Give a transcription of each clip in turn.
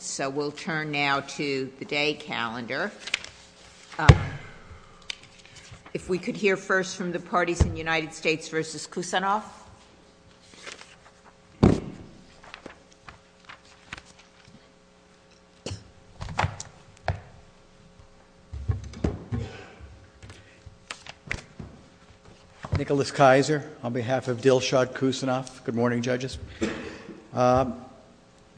So we'll turn now to the day calendar. If we could hear first from the parties in the United States v. Khusenov. Nicholas Kaiser on behalf of Dilshad Khusenov. Good morning, judges.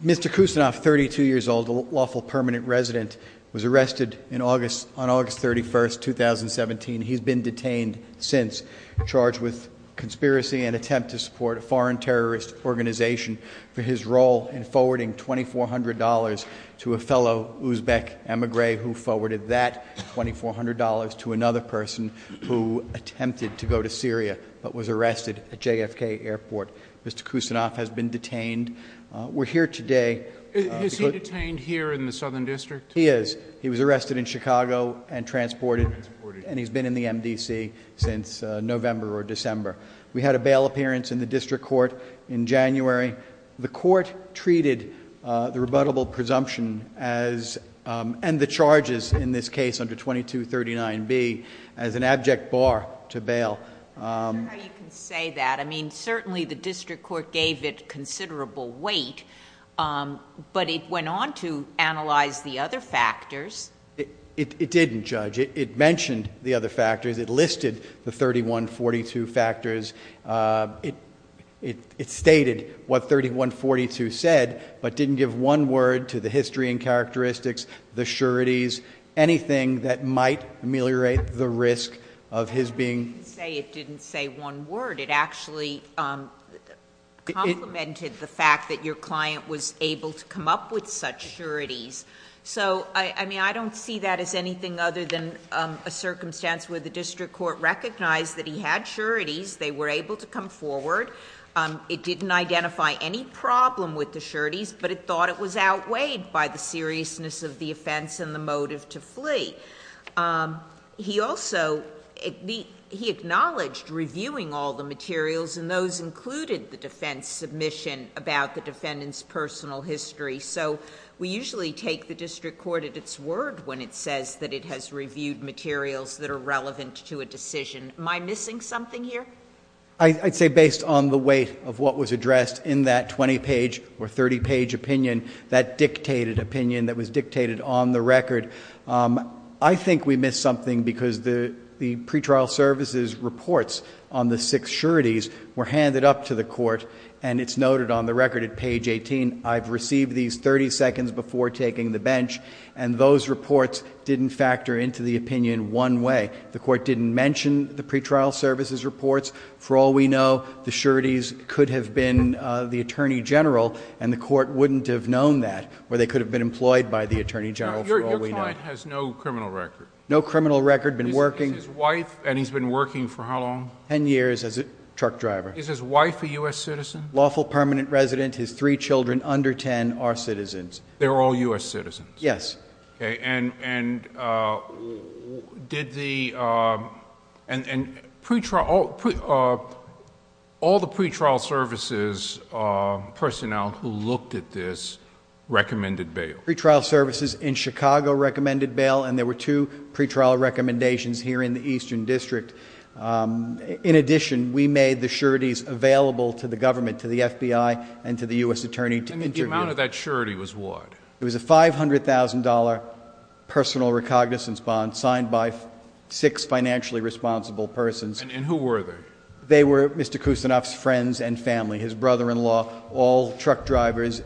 Mr. Khusenov, 32 years old, a lawful permanent resident, was arrested on August 31, 2017. He's been detained since, charged with conspiracy and attempt to support a foreign terrorist organization for his role in forwarding $2,400 to a fellow Uzbek emigre who forwarded that $2,400 to another person who attempted to go to Syria but was arrested at JFK airport. Mr. Khusenov has been detained. We're here today. Is he detained here in the Southern District? He is. He was arrested in Chicago and transported and he's been in the MDC since November or December. We had a bail appearance in the district court in January. The court treated the rebuttable presumption and the charges in this case under 2239B as an abject bar to bail. I'm not sure how you can say that. I mean, certainly the district court gave it considerable weight, but it went on to analyze the other factors. It didn't, Judge. It mentioned the other factors. It listed the 3142 factors. It stated what 3142 said but didn't give one word to the history and characteristics, the sureties, anything that might ameliorate the risk of his being... I didn't say it didn't say one word. It actually complimented the fact that your client was able to come up with such sureties. So, I mean, I don't see that as anything other than a circumstance where the district court recognized that he had sureties. They were able to come forward. It didn't identify any problem with the sureties, but it thought it was outweighed by the seriousness of the offense and the motive to flee. He also... he acknowledged reviewing all the materials and those included the defense submission about the defendant's personal history. So, we usually take the district court at its word when it says that it has reviewed materials that are relevant to a decision. Am I missing something here? I'd say based on the weight of what was addressed in that 20-page or 30-page opinion, that dictated opinion that was dictated on the record. I think we missed something because the pretrial services reports on the six sureties were handed up to the court, and it's noted on the record at page 18. I've received these 30 seconds before taking the bench, and those reports didn't factor into the opinion one way. The court didn't mention the pretrial services reports. For all we know, the sureties could have been the attorney general, and the court wouldn't have known that, or they could have been employed by the attorney general, for all we know. The client has no criminal record? No criminal record. Been working... Is his wife... and he's been working for how long? Ten years as a truck driver. Is his wife a U.S. citizen? Lawful permanent resident. His three children under 10 are citizens. They're all U.S. citizens? Yes. Okay, and did the... and all the pretrial services personnel who looked at this recommended bail? The pretrial services in Chicago recommended bail, and there were two pretrial recommendations here in the Eastern District. In addition, we made the sureties available to the government, to the FBI, and to the U.S. attorney to interview. And the amount of that surety was what? It was a $500,000 personal recognizance bond signed by six financially responsible persons. And who were they? They were Mr. Kusinov's friends and family, his brother-in-law, all truck drivers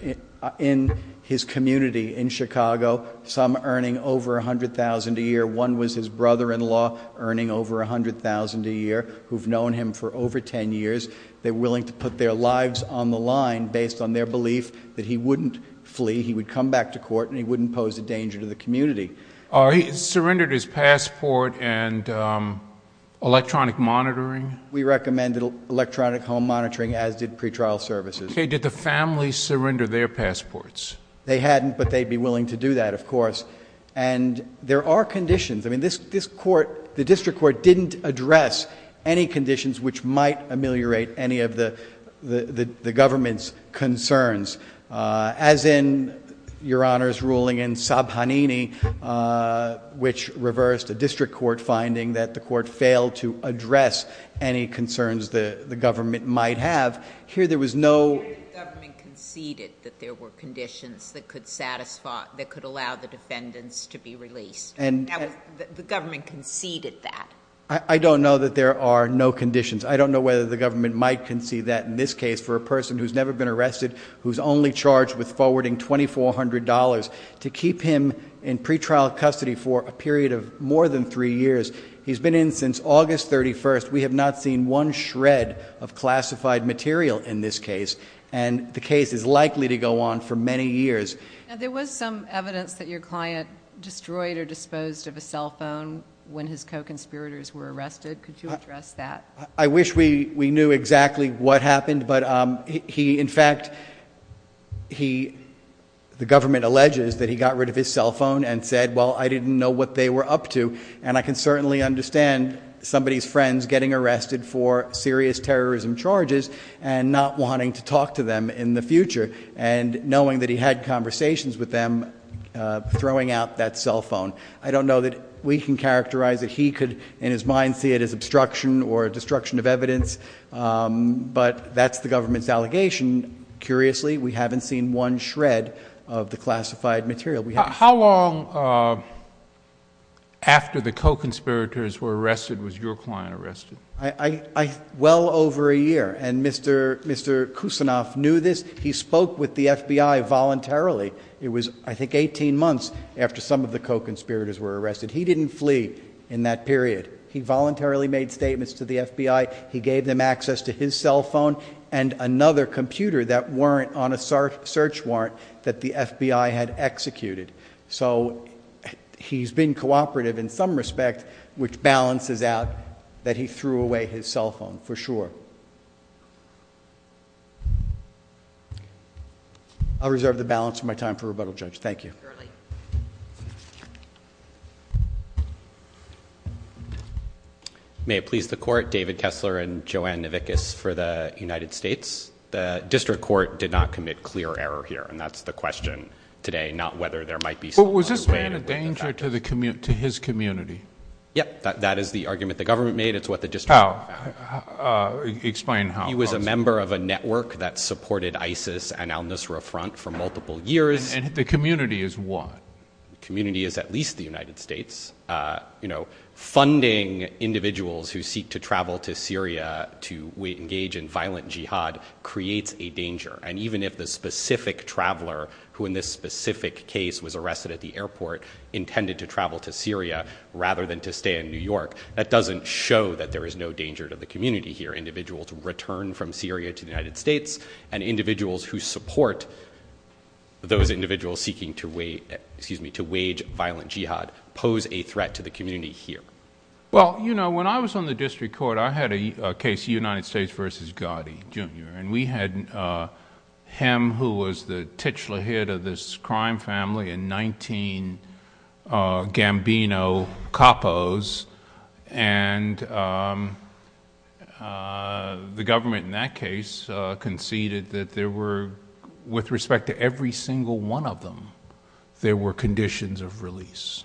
in his community in Chicago, some earning over $100,000 a year. One was his brother-in-law, earning over $100,000 a year, who've known him for over 10 years. They were willing to put their lives on the line based on their belief that he wouldn't flee, he would come back to court, and he wouldn't pose a danger to the community. He surrendered his passport and electronic monitoring? We recommended electronic home monitoring, as did pretrial services. Okay. Did the family surrender their passports? They hadn't, but they'd be willing to do that, of course. And there are conditions. I mean, this court, the district court, didn't address any conditions which might ameliorate any of the government's concerns. As in Your Honor's ruling in Sabhanini, which reversed a district court finding that the court failed to address any concerns the government might have. Here there was no- Here the government conceded that there were conditions that could allow the defendants to be released. The government conceded that. I don't know that there are no conditions. I don't know whether the government might concede that in this case for a person who's never been arrested, who's only charged with forwarding $2,400 to keep him in pretrial custody for a period of more than three years. He's been in since August 31st. We have not seen one shred of classified material in this case, and the case is likely to go on for many years. Now, there was some evidence that your client destroyed or disposed of a cell phone when his co-conspirators were arrested. Could you address that? I wish we knew exactly what happened, but he, in fact, he, the government alleges that he got rid of his cell phone and said, well, I didn't know what they were up to, and I can certainly understand somebody's friends getting arrested for serious terrorism charges and not wanting to talk to them in the future, and knowing that he had conversations with them throwing out that cell phone. I don't know that we can characterize it. He could, in his mind, see it as obstruction or destruction of evidence, but that's the government's allegation. Curiously, we haven't seen one shred of the classified material. How long after the co-conspirators were arrested was your client arrested? Well over a year, and Mr. Kusanoff knew this. He spoke with the FBI voluntarily. It was, I think, 18 months after some of the co-conspirators were arrested. He didn't flee in that period. He voluntarily made statements to the FBI. He gave them access to his cell phone and another computer that weren't on a search warrant that the FBI had executed. So he's been cooperative in some respect, which balances out that he threw away his cell phone for sure. Thank you. I'll reserve the balance of my time for rebuttal, Judge. Thank you. May it please the Court, David Kessler and Joanne Navickas for the United States. The district court did not commit clear error here, and that's the question today, not whether there might be... But was this paying a danger to his community? Yes, that is the argument the government made. It's what the district... How? Explain how. He was a member of a network that supported ISIS and al-Nusra Front for multiple years. And the community is what? The community is at least the United States. Funding individuals who seek to travel to Syria to engage in violent jihad creates a danger. And even if the specific traveler who in this specific case was arrested at the airport intended to travel to Syria rather than to stay in New York, that doesn't show that there is no danger to the community here. Individuals return from Syria to the United States, and individuals who support those individuals seeking to wage violent jihad pose a threat to the community here. Well, you know, when I was on the district court, I had a case, United States versus Gotti, Jr. And we had him who was the titular head of this crime family and nineteen Gambino capos. And the government in that case conceded that there were, with respect to every single one of them, there were conditions of release.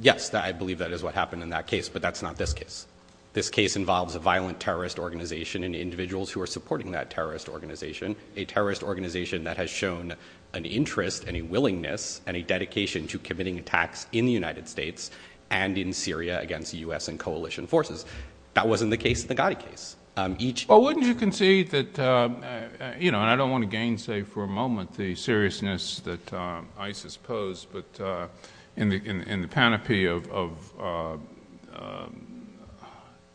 Yes, I believe that is what happened in that case, but that's not this case. This case involves a violent terrorist organization and individuals who are supporting that terrorist organization, a terrorist organization that has shown an interest and a willingness and a dedication to committing attacks in the United States and in Syria against U.S. and coalition forces. That wasn't the case in the Gotti case. Well, wouldn't you concede that, you know, and I don't want to gainsay for a moment the seriousness that ISIS posed, but in the panoply of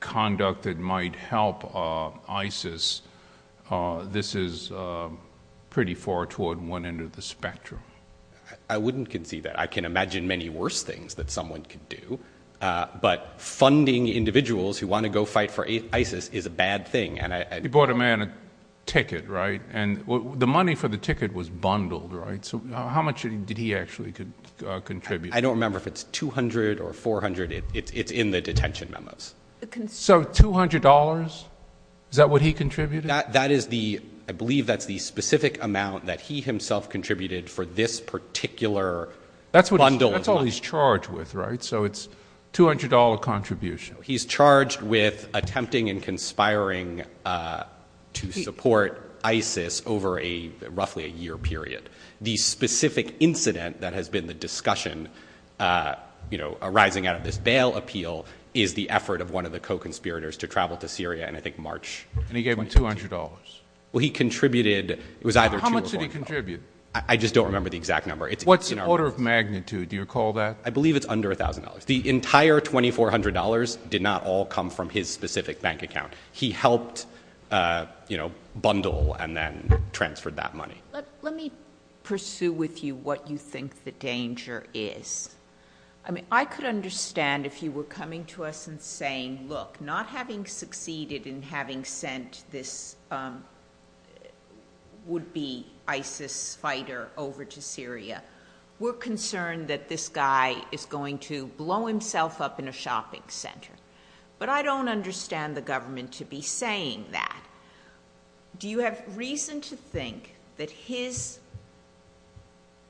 conduct that might help ISIS, this is pretty far toward one end of the spectrum. I wouldn't concede that. I can imagine many worse things that someone could do. But funding individuals who want to go fight for ISIS is a bad thing. He bought a man a ticket, right? And the money for the ticket was bundled, right? So how much did he actually contribute? I don't remember if it's $200 or $400. It's in the detention memos. So $200? Is that what he contributed? That is the, I believe that's the specific amount that he himself contributed for this particular bundle. That's all he's charged with, right? So it's $200 contribution. He's charged with attempting and conspiring to support ISIS over roughly a year period. The specific incident that has been the discussion, you know, arising out of this bail appeal is the effort of one of the co-conspirators to travel to Syria in, I think, March. And he gave him $200? Well, he contributed, it was either two or both. How much did he contribute? I just don't remember the exact number. What's the order of magnitude? Do you recall that? I believe it's under $1,000. The entire $2,400 did not all come from his specific bank account. He helped, you know, bundle and then transferred that money. Let me pursue with you what you think the danger is. I mean, I could understand if you were coming to us and saying, look, not having succeeded in having sent this would-be ISIS fighter over to Syria, we're concerned that this guy is going to blow himself up in a shopping center. But I don't understand the government to be saying that. Do you have reason to think that his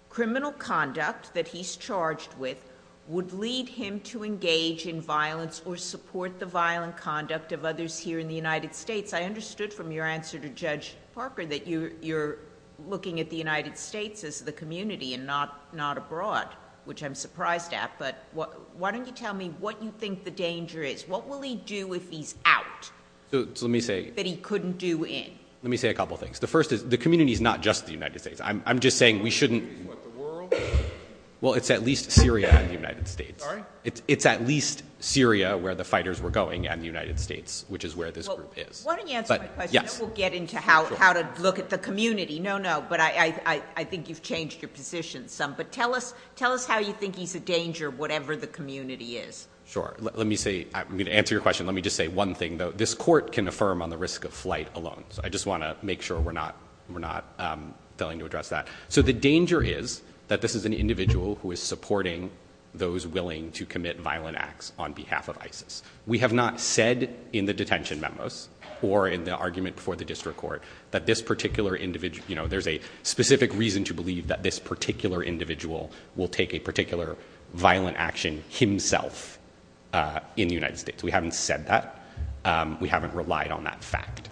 criminal conduct that he's charged with would lead him to engage in violence or support the violent conduct of others here in the United States? I understood from your answer to Judge Parker that you're looking at the United States as the community and not abroad, which I'm surprised at. But why don't you tell me what you think the danger is? What will he do if he's out that he couldn't do in? Let me say a couple of things. The first is, the community is not just the United States. I'm just saying we shouldn't- What, the world? Well, it's at least Syria and the United States. Sorry? It's at least Syria where the fighters were going and the United States, which is where this group is. Why don't you answer my question? Then we'll get into how to look at the community. No, no, but I think you've changed your position some. But tell us how you think he's a danger, whatever the community is. Sure. Let me say, to answer your question, let me just say one thing, though. This court can affirm on the risk of flight alone, so I just want to make sure we're not failing to address that. So the danger is that this is an individual who is supporting those willing to commit violent acts on behalf of ISIS. We have not said in the detention memos or in the argument before the district court that this particular individual- in the United States. We haven't said that. We haven't relied on that fact.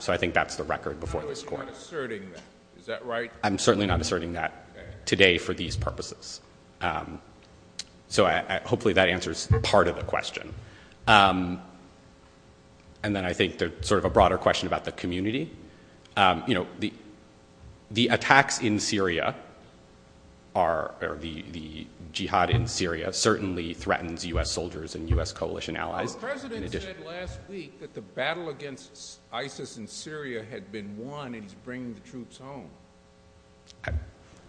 So I think that's the record before this court. So you're not asserting that. Is that right? I'm certainly not asserting that today for these purposes. So hopefully that answers part of the question. And then I think there's sort of a broader question about the community. You know, the attacks in Syria are- or the jihad in Syria certainly threatens U.S. soldiers and U.S. coalition allies. Our president said last week that the battle against ISIS in Syria had been won and he's bringing the troops home.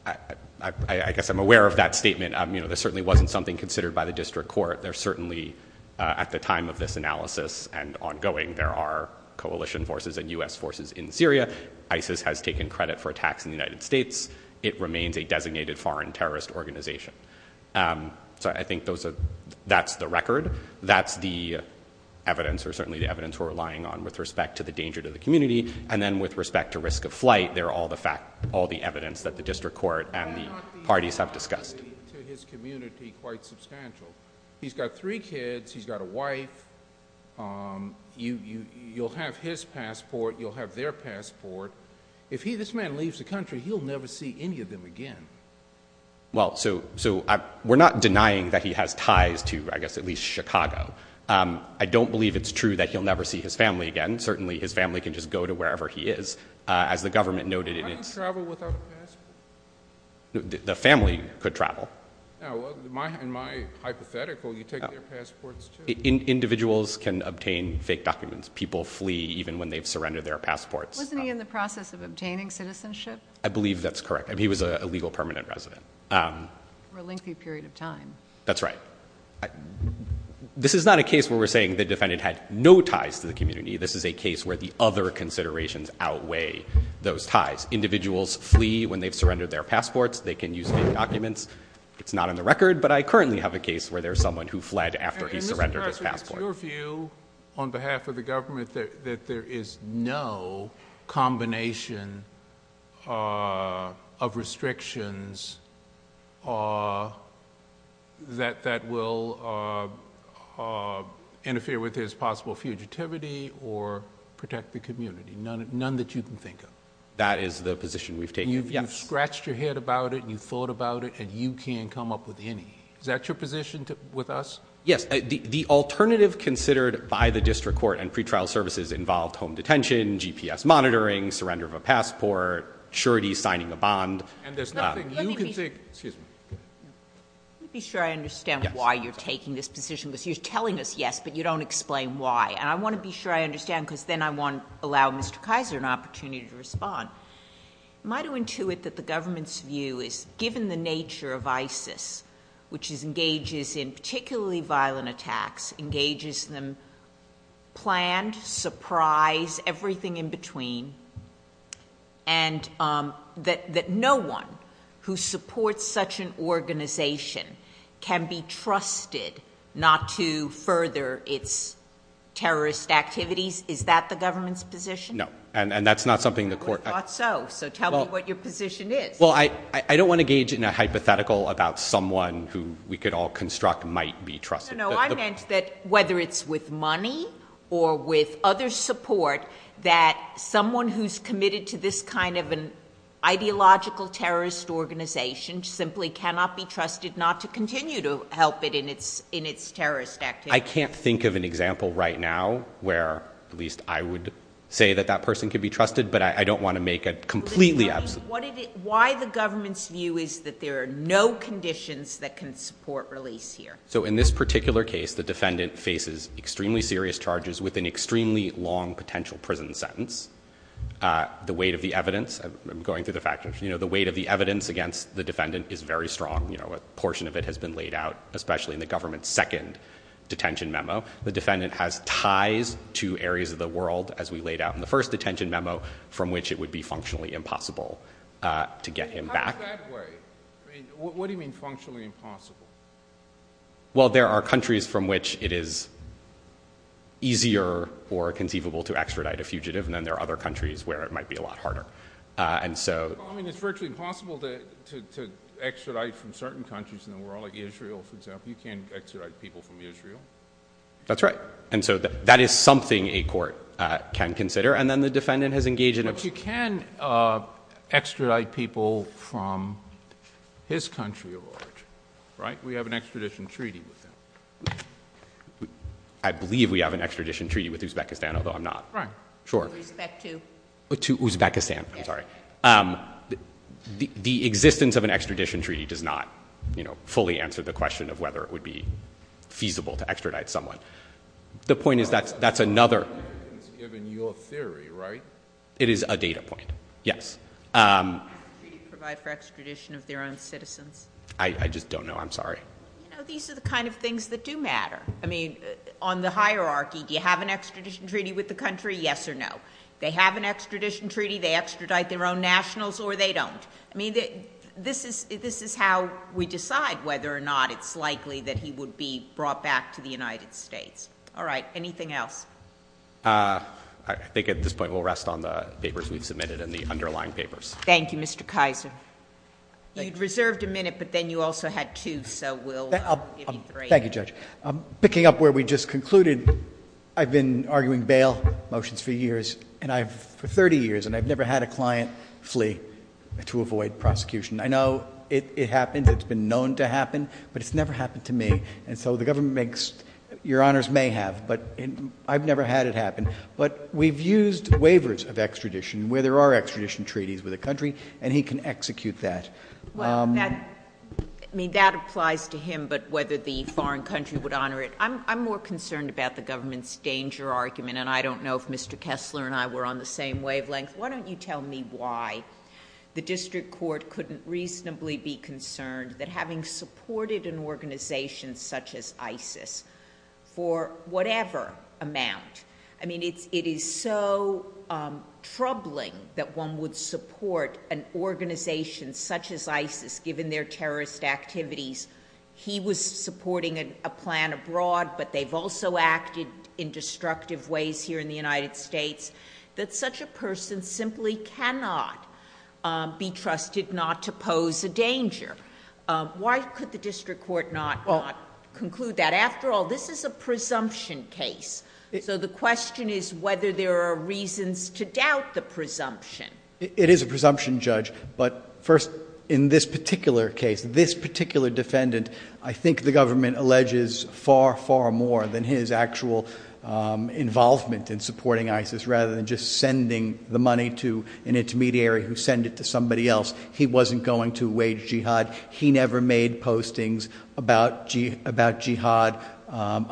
I guess I'm aware of that statement. You know, there certainly wasn't something considered by the district court. There certainly, at the time of this analysis and ongoing, there are coalition forces and U.S. forces in Syria. ISIS has taken credit for attacks in the United States. It remains a designated foreign terrorist organization. So I think that's the record. That's the evidence or certainly the evidence we're relying on with respect to the danger to the community. And then with respect to risk of flight, there are all the evidence that the district court and the parties have discussed. ...to his community quite substantial. He's got three kids. He's got a wife. You'll have his passport. You'll have their passport. If this man leaves the country, he'll never see any of them again. Well, so we're not denying that he has ties to, I guess, at least Chicago. I don't believe it's true that he'll never see his family again. Certainly his family can just go to wherever he is. As the government noted in its- How do you travel without a passport? The family could travel. In my hypothetical, you take their passports, too. Individuals can obtain fake documents. People flee even when they've surrendered their passports. Wasn't he in the process of obtaining citizenship? I believe that's correct. He was a legal permanent resident. For a lengthy period of time. That's right. This is not a case where we're saying the defendant had no ties to the community. This is a case where the other considerations outweigh those ties. Individuals flee when they've surrendered their passports. They can use fake documents. It's not on the record, but I currently have a case where there's someone who fled after he surrendered his passport. And, Mr. Carson, it's your view, on behalf of the government, that there is no combination of restrictions that will interfere with his possible fugitivity or protect the community. None that you can think of. That is the position we've taken. You've scratched your head about it, and you've thought about it, and you can't come up with any. Is that your position with us? Yes. The alternative considered by the district court and pretrial services involved home detention, GPS monitoring, surrender of a passport, surety, signing a bond. And there's nothing you can think... Excuse me. Let me be sure I understand why you're taking this position. Because you're telling us yes, but you don't explain why. And I want to be sure I understand, because then I want to allow Mr. Kaiser an opportunity to respond. Am I to intuit that the government's view is, given the nature of ISIS, which engages in particularly violent attacks, engages them planned, surprise, everything in between, and that no one who supports such an organization can be trusted not to further its terrorist activities? Is that the government's position? No. And that's not something the court... I would have thought so. So tell me what your position is. Well, I don't want to gauge in a hypothetical about someone who we could all construct might be trusted. No, no, no. I meant that whether it's with money or with other support, that someone who's committed to this kind of an ideological terrorist organization simply cannot be trusted not to continue to help it in its terrorist activities. I can't think of an example right now where at least I would say that that person could be trusted, but I don't want to make a completely... Why the government's view is that there are no conditions that can support release here? So in this particular case, the defendant faces extremely serious charges with an extremely long potential prison sentence. The weight of the evidence... I'm going through the factors. The weight of the evidence against the defendant is very strong. A portion of it has been laid out, especially in the government's second detention memo. The defendant has ties to areas of the world, as we laid out in the first detention memo, from which it would be functionally impossible to get him back. In that way, what do you mean functionally impossible? Well, there are countries from which it is easier or conceivable to extradite a fugitive, and then there are other countries where it might be a lot harder. I mean, it's virtually impossible to extradite from certain countries in the world, like Israel, for example. You can't extradite people from Israel. That's right, and so that is something a court can consider. And then the defendant has engaged in... But we can extradite people from his country of origin, right? We have an extradition treaty with them. I believe we have an extradition treaty with Uzbekistan, although I'm not sure. Right. With respect to? To Uzbekistan, I'm sorry. The existence of an extradition treaty does not, you know, fully answer the question of whether it would be feasible to extradite someone. The point is that's another... It's given your theory, right? It is a data point, yes. Do you provide for extradition of their own citizens? I just don't know. I'm sorry. You know, these are the kind of things that do matter. I mean, on the hierarchy, do you have an extradition treaty with the country? Yes or no. They have an extradition treaty. They extradite their own nationals or they don't. I mean, this is how we decide whether or not it's likely that he would be brought back to the United States. All right, anything else? I think at this point we'll rest on the papers we've submitted and the underlying papers. Thank you, Mr. Kaiser. You reserved a minute, but then you also had two, so we'll give you three. Thank you, Judge. Picking up where we just concluded, I've been arguing bail motions for years, and I've... for 30 years, and I've never had a client flee to avoid prosecution. I know it happens. It's been known to happen, but it's never happened to me. And so the government makes... your honors may have, but I've never had it happen. But we've used waivers of extradition where there are extradition treaties with a country, and he can execute that. Well, that... I mean, that applies to him, but whether the foreign country would honor it. I'm more concerned about the government's danger argument, and I don't know if Mr. Kessler and I were on the same wavelength. Why don't you tell me why the district court couldn't reasonably be concerned that having supported an organization such as ISIS for whatever amount... I mean, it is so troubling that one would support an organization such as ISIS, given their terrorist activities. He was supporting a plan abroad, but they've also acted in destructive ways here in the United States, that such a person simply cannot be trusted not to pose a danger. Why could the district court not conclude that? After all, this is a presumption case. So, the question is whether there are reasons to doubt the presumption. It is a presumption, Judge. But first, in this particular case, this particular defendant, I think the government alleges far, far more than his actual involvement in supporting ISIS, rather than just sending the money to an intermediary who sent it to somebody else. He wasn't going to wage jihad. He never made postings about jihad,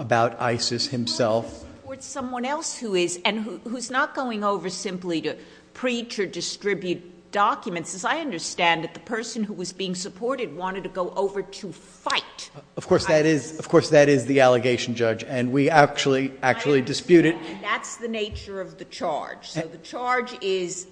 about ISIS himself.... support someone else who is, and who's not going over simply to preach or distribute documents. I understand that the person who was being supported wanted to go over to fight ISIS. Of course, that is the allegation, Judge, and we actually dispute it. I understand, and that's the nature of the charge. So, the charge is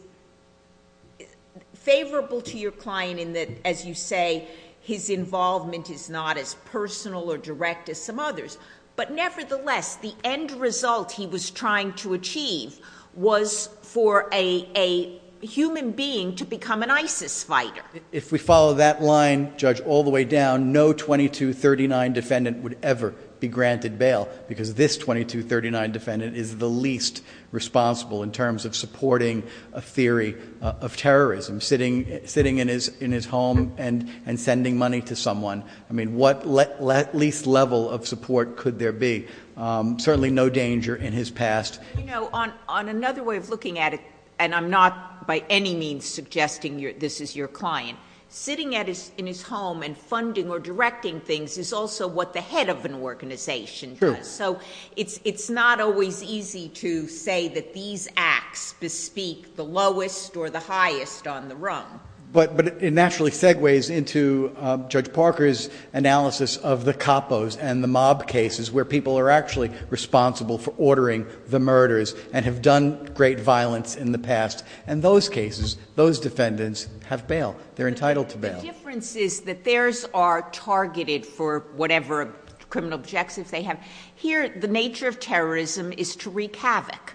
favorable to your client in that, as you say, his involvement is not as personal or direct as some others. But nevertheless, the end result he was trying to achieve was for a human being to become an ISIS fighter. If we follow that line, Judge, all the way down, no 2239 defendant would ever be granted bail because this 2239 defendant is the least responsible in terms of supporting a theory of terrorism, sitting in his home and sending money to someone. I mean, what least level of support could there be? Certainly no danger in his past. You know, on another way of looking at it, and I'm not by any means suggesting this is your client, sitting in his home and funding or directing things is also what the head of an organization does. True. So, it's not always easy to say that these acts bespeak the lowest or the highest on the rung. But it naturally segues into Judge Parker's analysis of the capos and the mob cases where people are actually responsible for ordering the murders and have done great violence in the past. And those cases, those defendants have bail. They're entitled to bail. The difference is that theirs are targeted for whatever criminal objectives they have. Here, the nature of terrorism is to wreak havoc.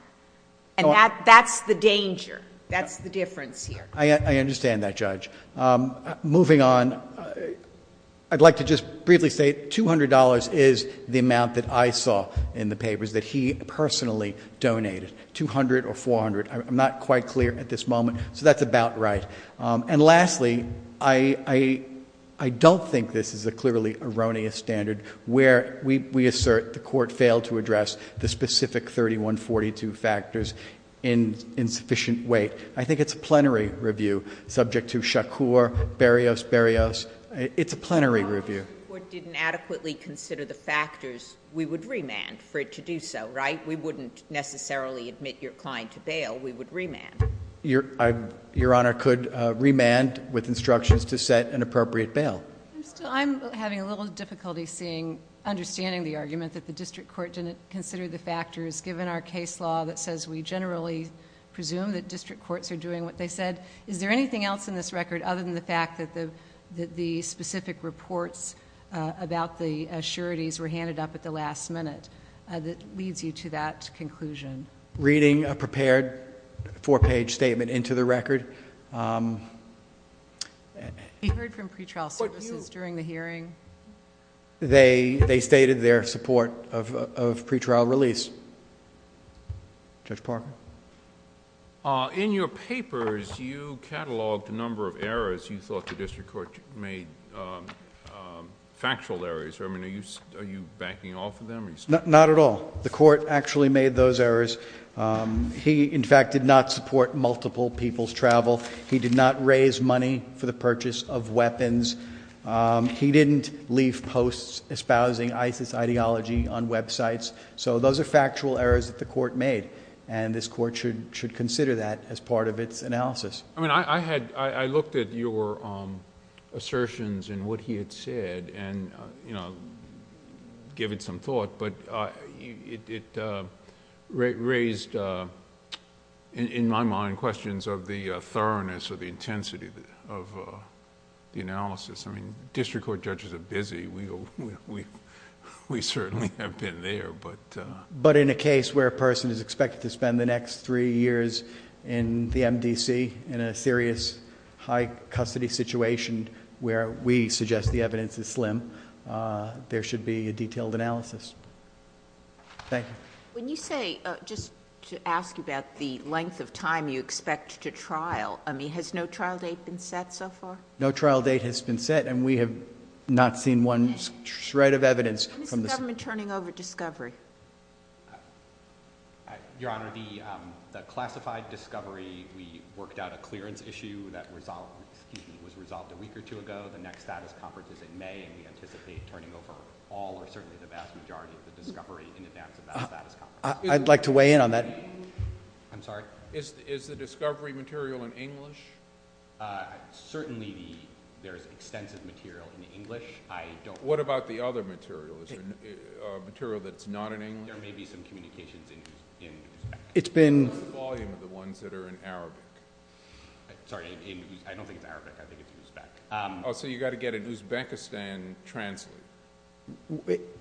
And that's the danger. That's the difference here. I understand that, Judge. Moving on, I'd like to just briefly say $200 is the amount that I saw in the papers that he personally donated. $200 or $400, I'm not quite clear at this moment. So, that's about right. And lastly, I don't think this is a clearly erroneous standard where we assert the court failed to address the specific 3142 factors in sufficient weight. I think it's a plenary review subject to Shakur, Berrios, Berrios. It's a plenary review. If the district court didn't adequately consider the factors, we would remand for it to do so, right? We wouldn't necessarily admit your client to bail. We would remand. Your Honor could remand with instructions to set an appropriate bail. I'm having a little difficulty seeing, understanding the argument that the district court didn't consider the factors given our case law that says we generally presume that district courts are doing what they said. Is there anything else in this record other than the fact that the specific reports about the assurities were handed up at the last minute that leads you to that conclusion? Reading a prepared four-page statement into the record. They stated their support of pretrial release. Judge Parker? In your papers, you cataloged a number of errors. You thought the district court made factual errors. Are you backing off of them? Not at all. The court actually made those errors. He, in fact, did not support multiple people's travel. He did not raise money for the purchase of weapons. He didn't leave posts espousing ISIS ideology on websites. So those are factual errors that the court made, and this court should consider that as part of its analysis. I looked at your assertions and what he had said and, you know, give it some thought, but it raised, in my mind, questions of the thoroughness or the intensity of the analysis. I mean, district court judges are busy. We certainly have been there, but... But in a case where a person is expected to spend the next three years in the MDC, in a serious high custody situation where we suggest the evidence is slim, there should be a detailed analysis. Thank you. When you say, just to ask you about the length of time you expect to trial, I mean, has no trial date been set so far? No trial date has been set, and we have not seen one shred of evidence from the... When is the government turning over discovery? Your Honor, the classified discovery, we worked out a clearance issue that was resolved a week or two ago. The next status conference is in May, and we anticipate turning over all or certainly the vast majority of the discovery in advance of that status conference. I'd like to weigh in on that. I'm sorry? Is the discovery material in English? Certainly there is extensive material in English. What about the other material? Is there material that's not in English? There may be some communications in Uzbek. It's been... What's the volume of the ones that are in Arabic? Sorry, I don't think it's Arabic. I think it's Uzbek. Oh, so you've got to get an Uzbekistan translate.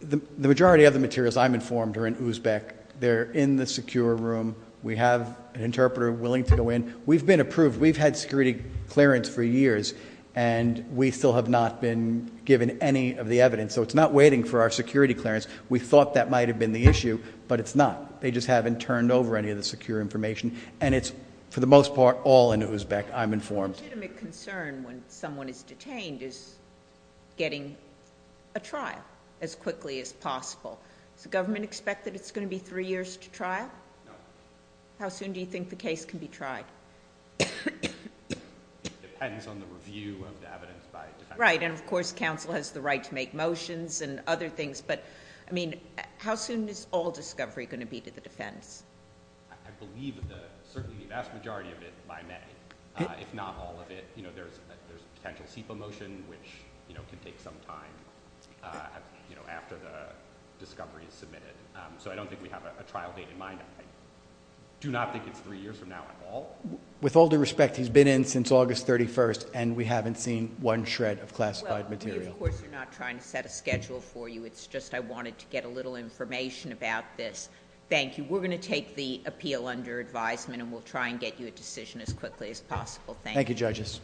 The majority of the materials I'm informed are in Uzbek. They're in the secure room. We have an interpreter willing to go in. We've been approved. We've had security clearance for years, and we still have not been given any of the evidence. So it's not waiting for our security clearance. We thought that might have been the issue, but it's not. They just haven't turned over any of the secure information, and it's, for the most part, all in Uzbek, I'm informed. The legitimate concern when someone is detained is getting a trial as quickly as possible. Does the government expect that it's going to be three years to trial? No. How soon do you think the case can be tried? It depends on the review of the evidence by defense. Right, and, of course, counsel has the right to make motions and other things. But, I mean, how soon is all discovery going to be to the defense? I believe certainly the vast majority of it by May. If not all of it, there's a potential SEPA motion, which can take some time after the discovery is submitted. So I don't think we have a trial date in mind. I do not think it's three years from now at all. With all due respect, he's been in since August 31st, and we haven't seen one shred of classified material. Well, of course, we're not trying to set a schedule for you. It's just I wanted to get a little information about this. Thank you. We're going to take the appeal under advisement, and we'll try and get you a decision as quickly as possible. Thank you. Thank you, judges.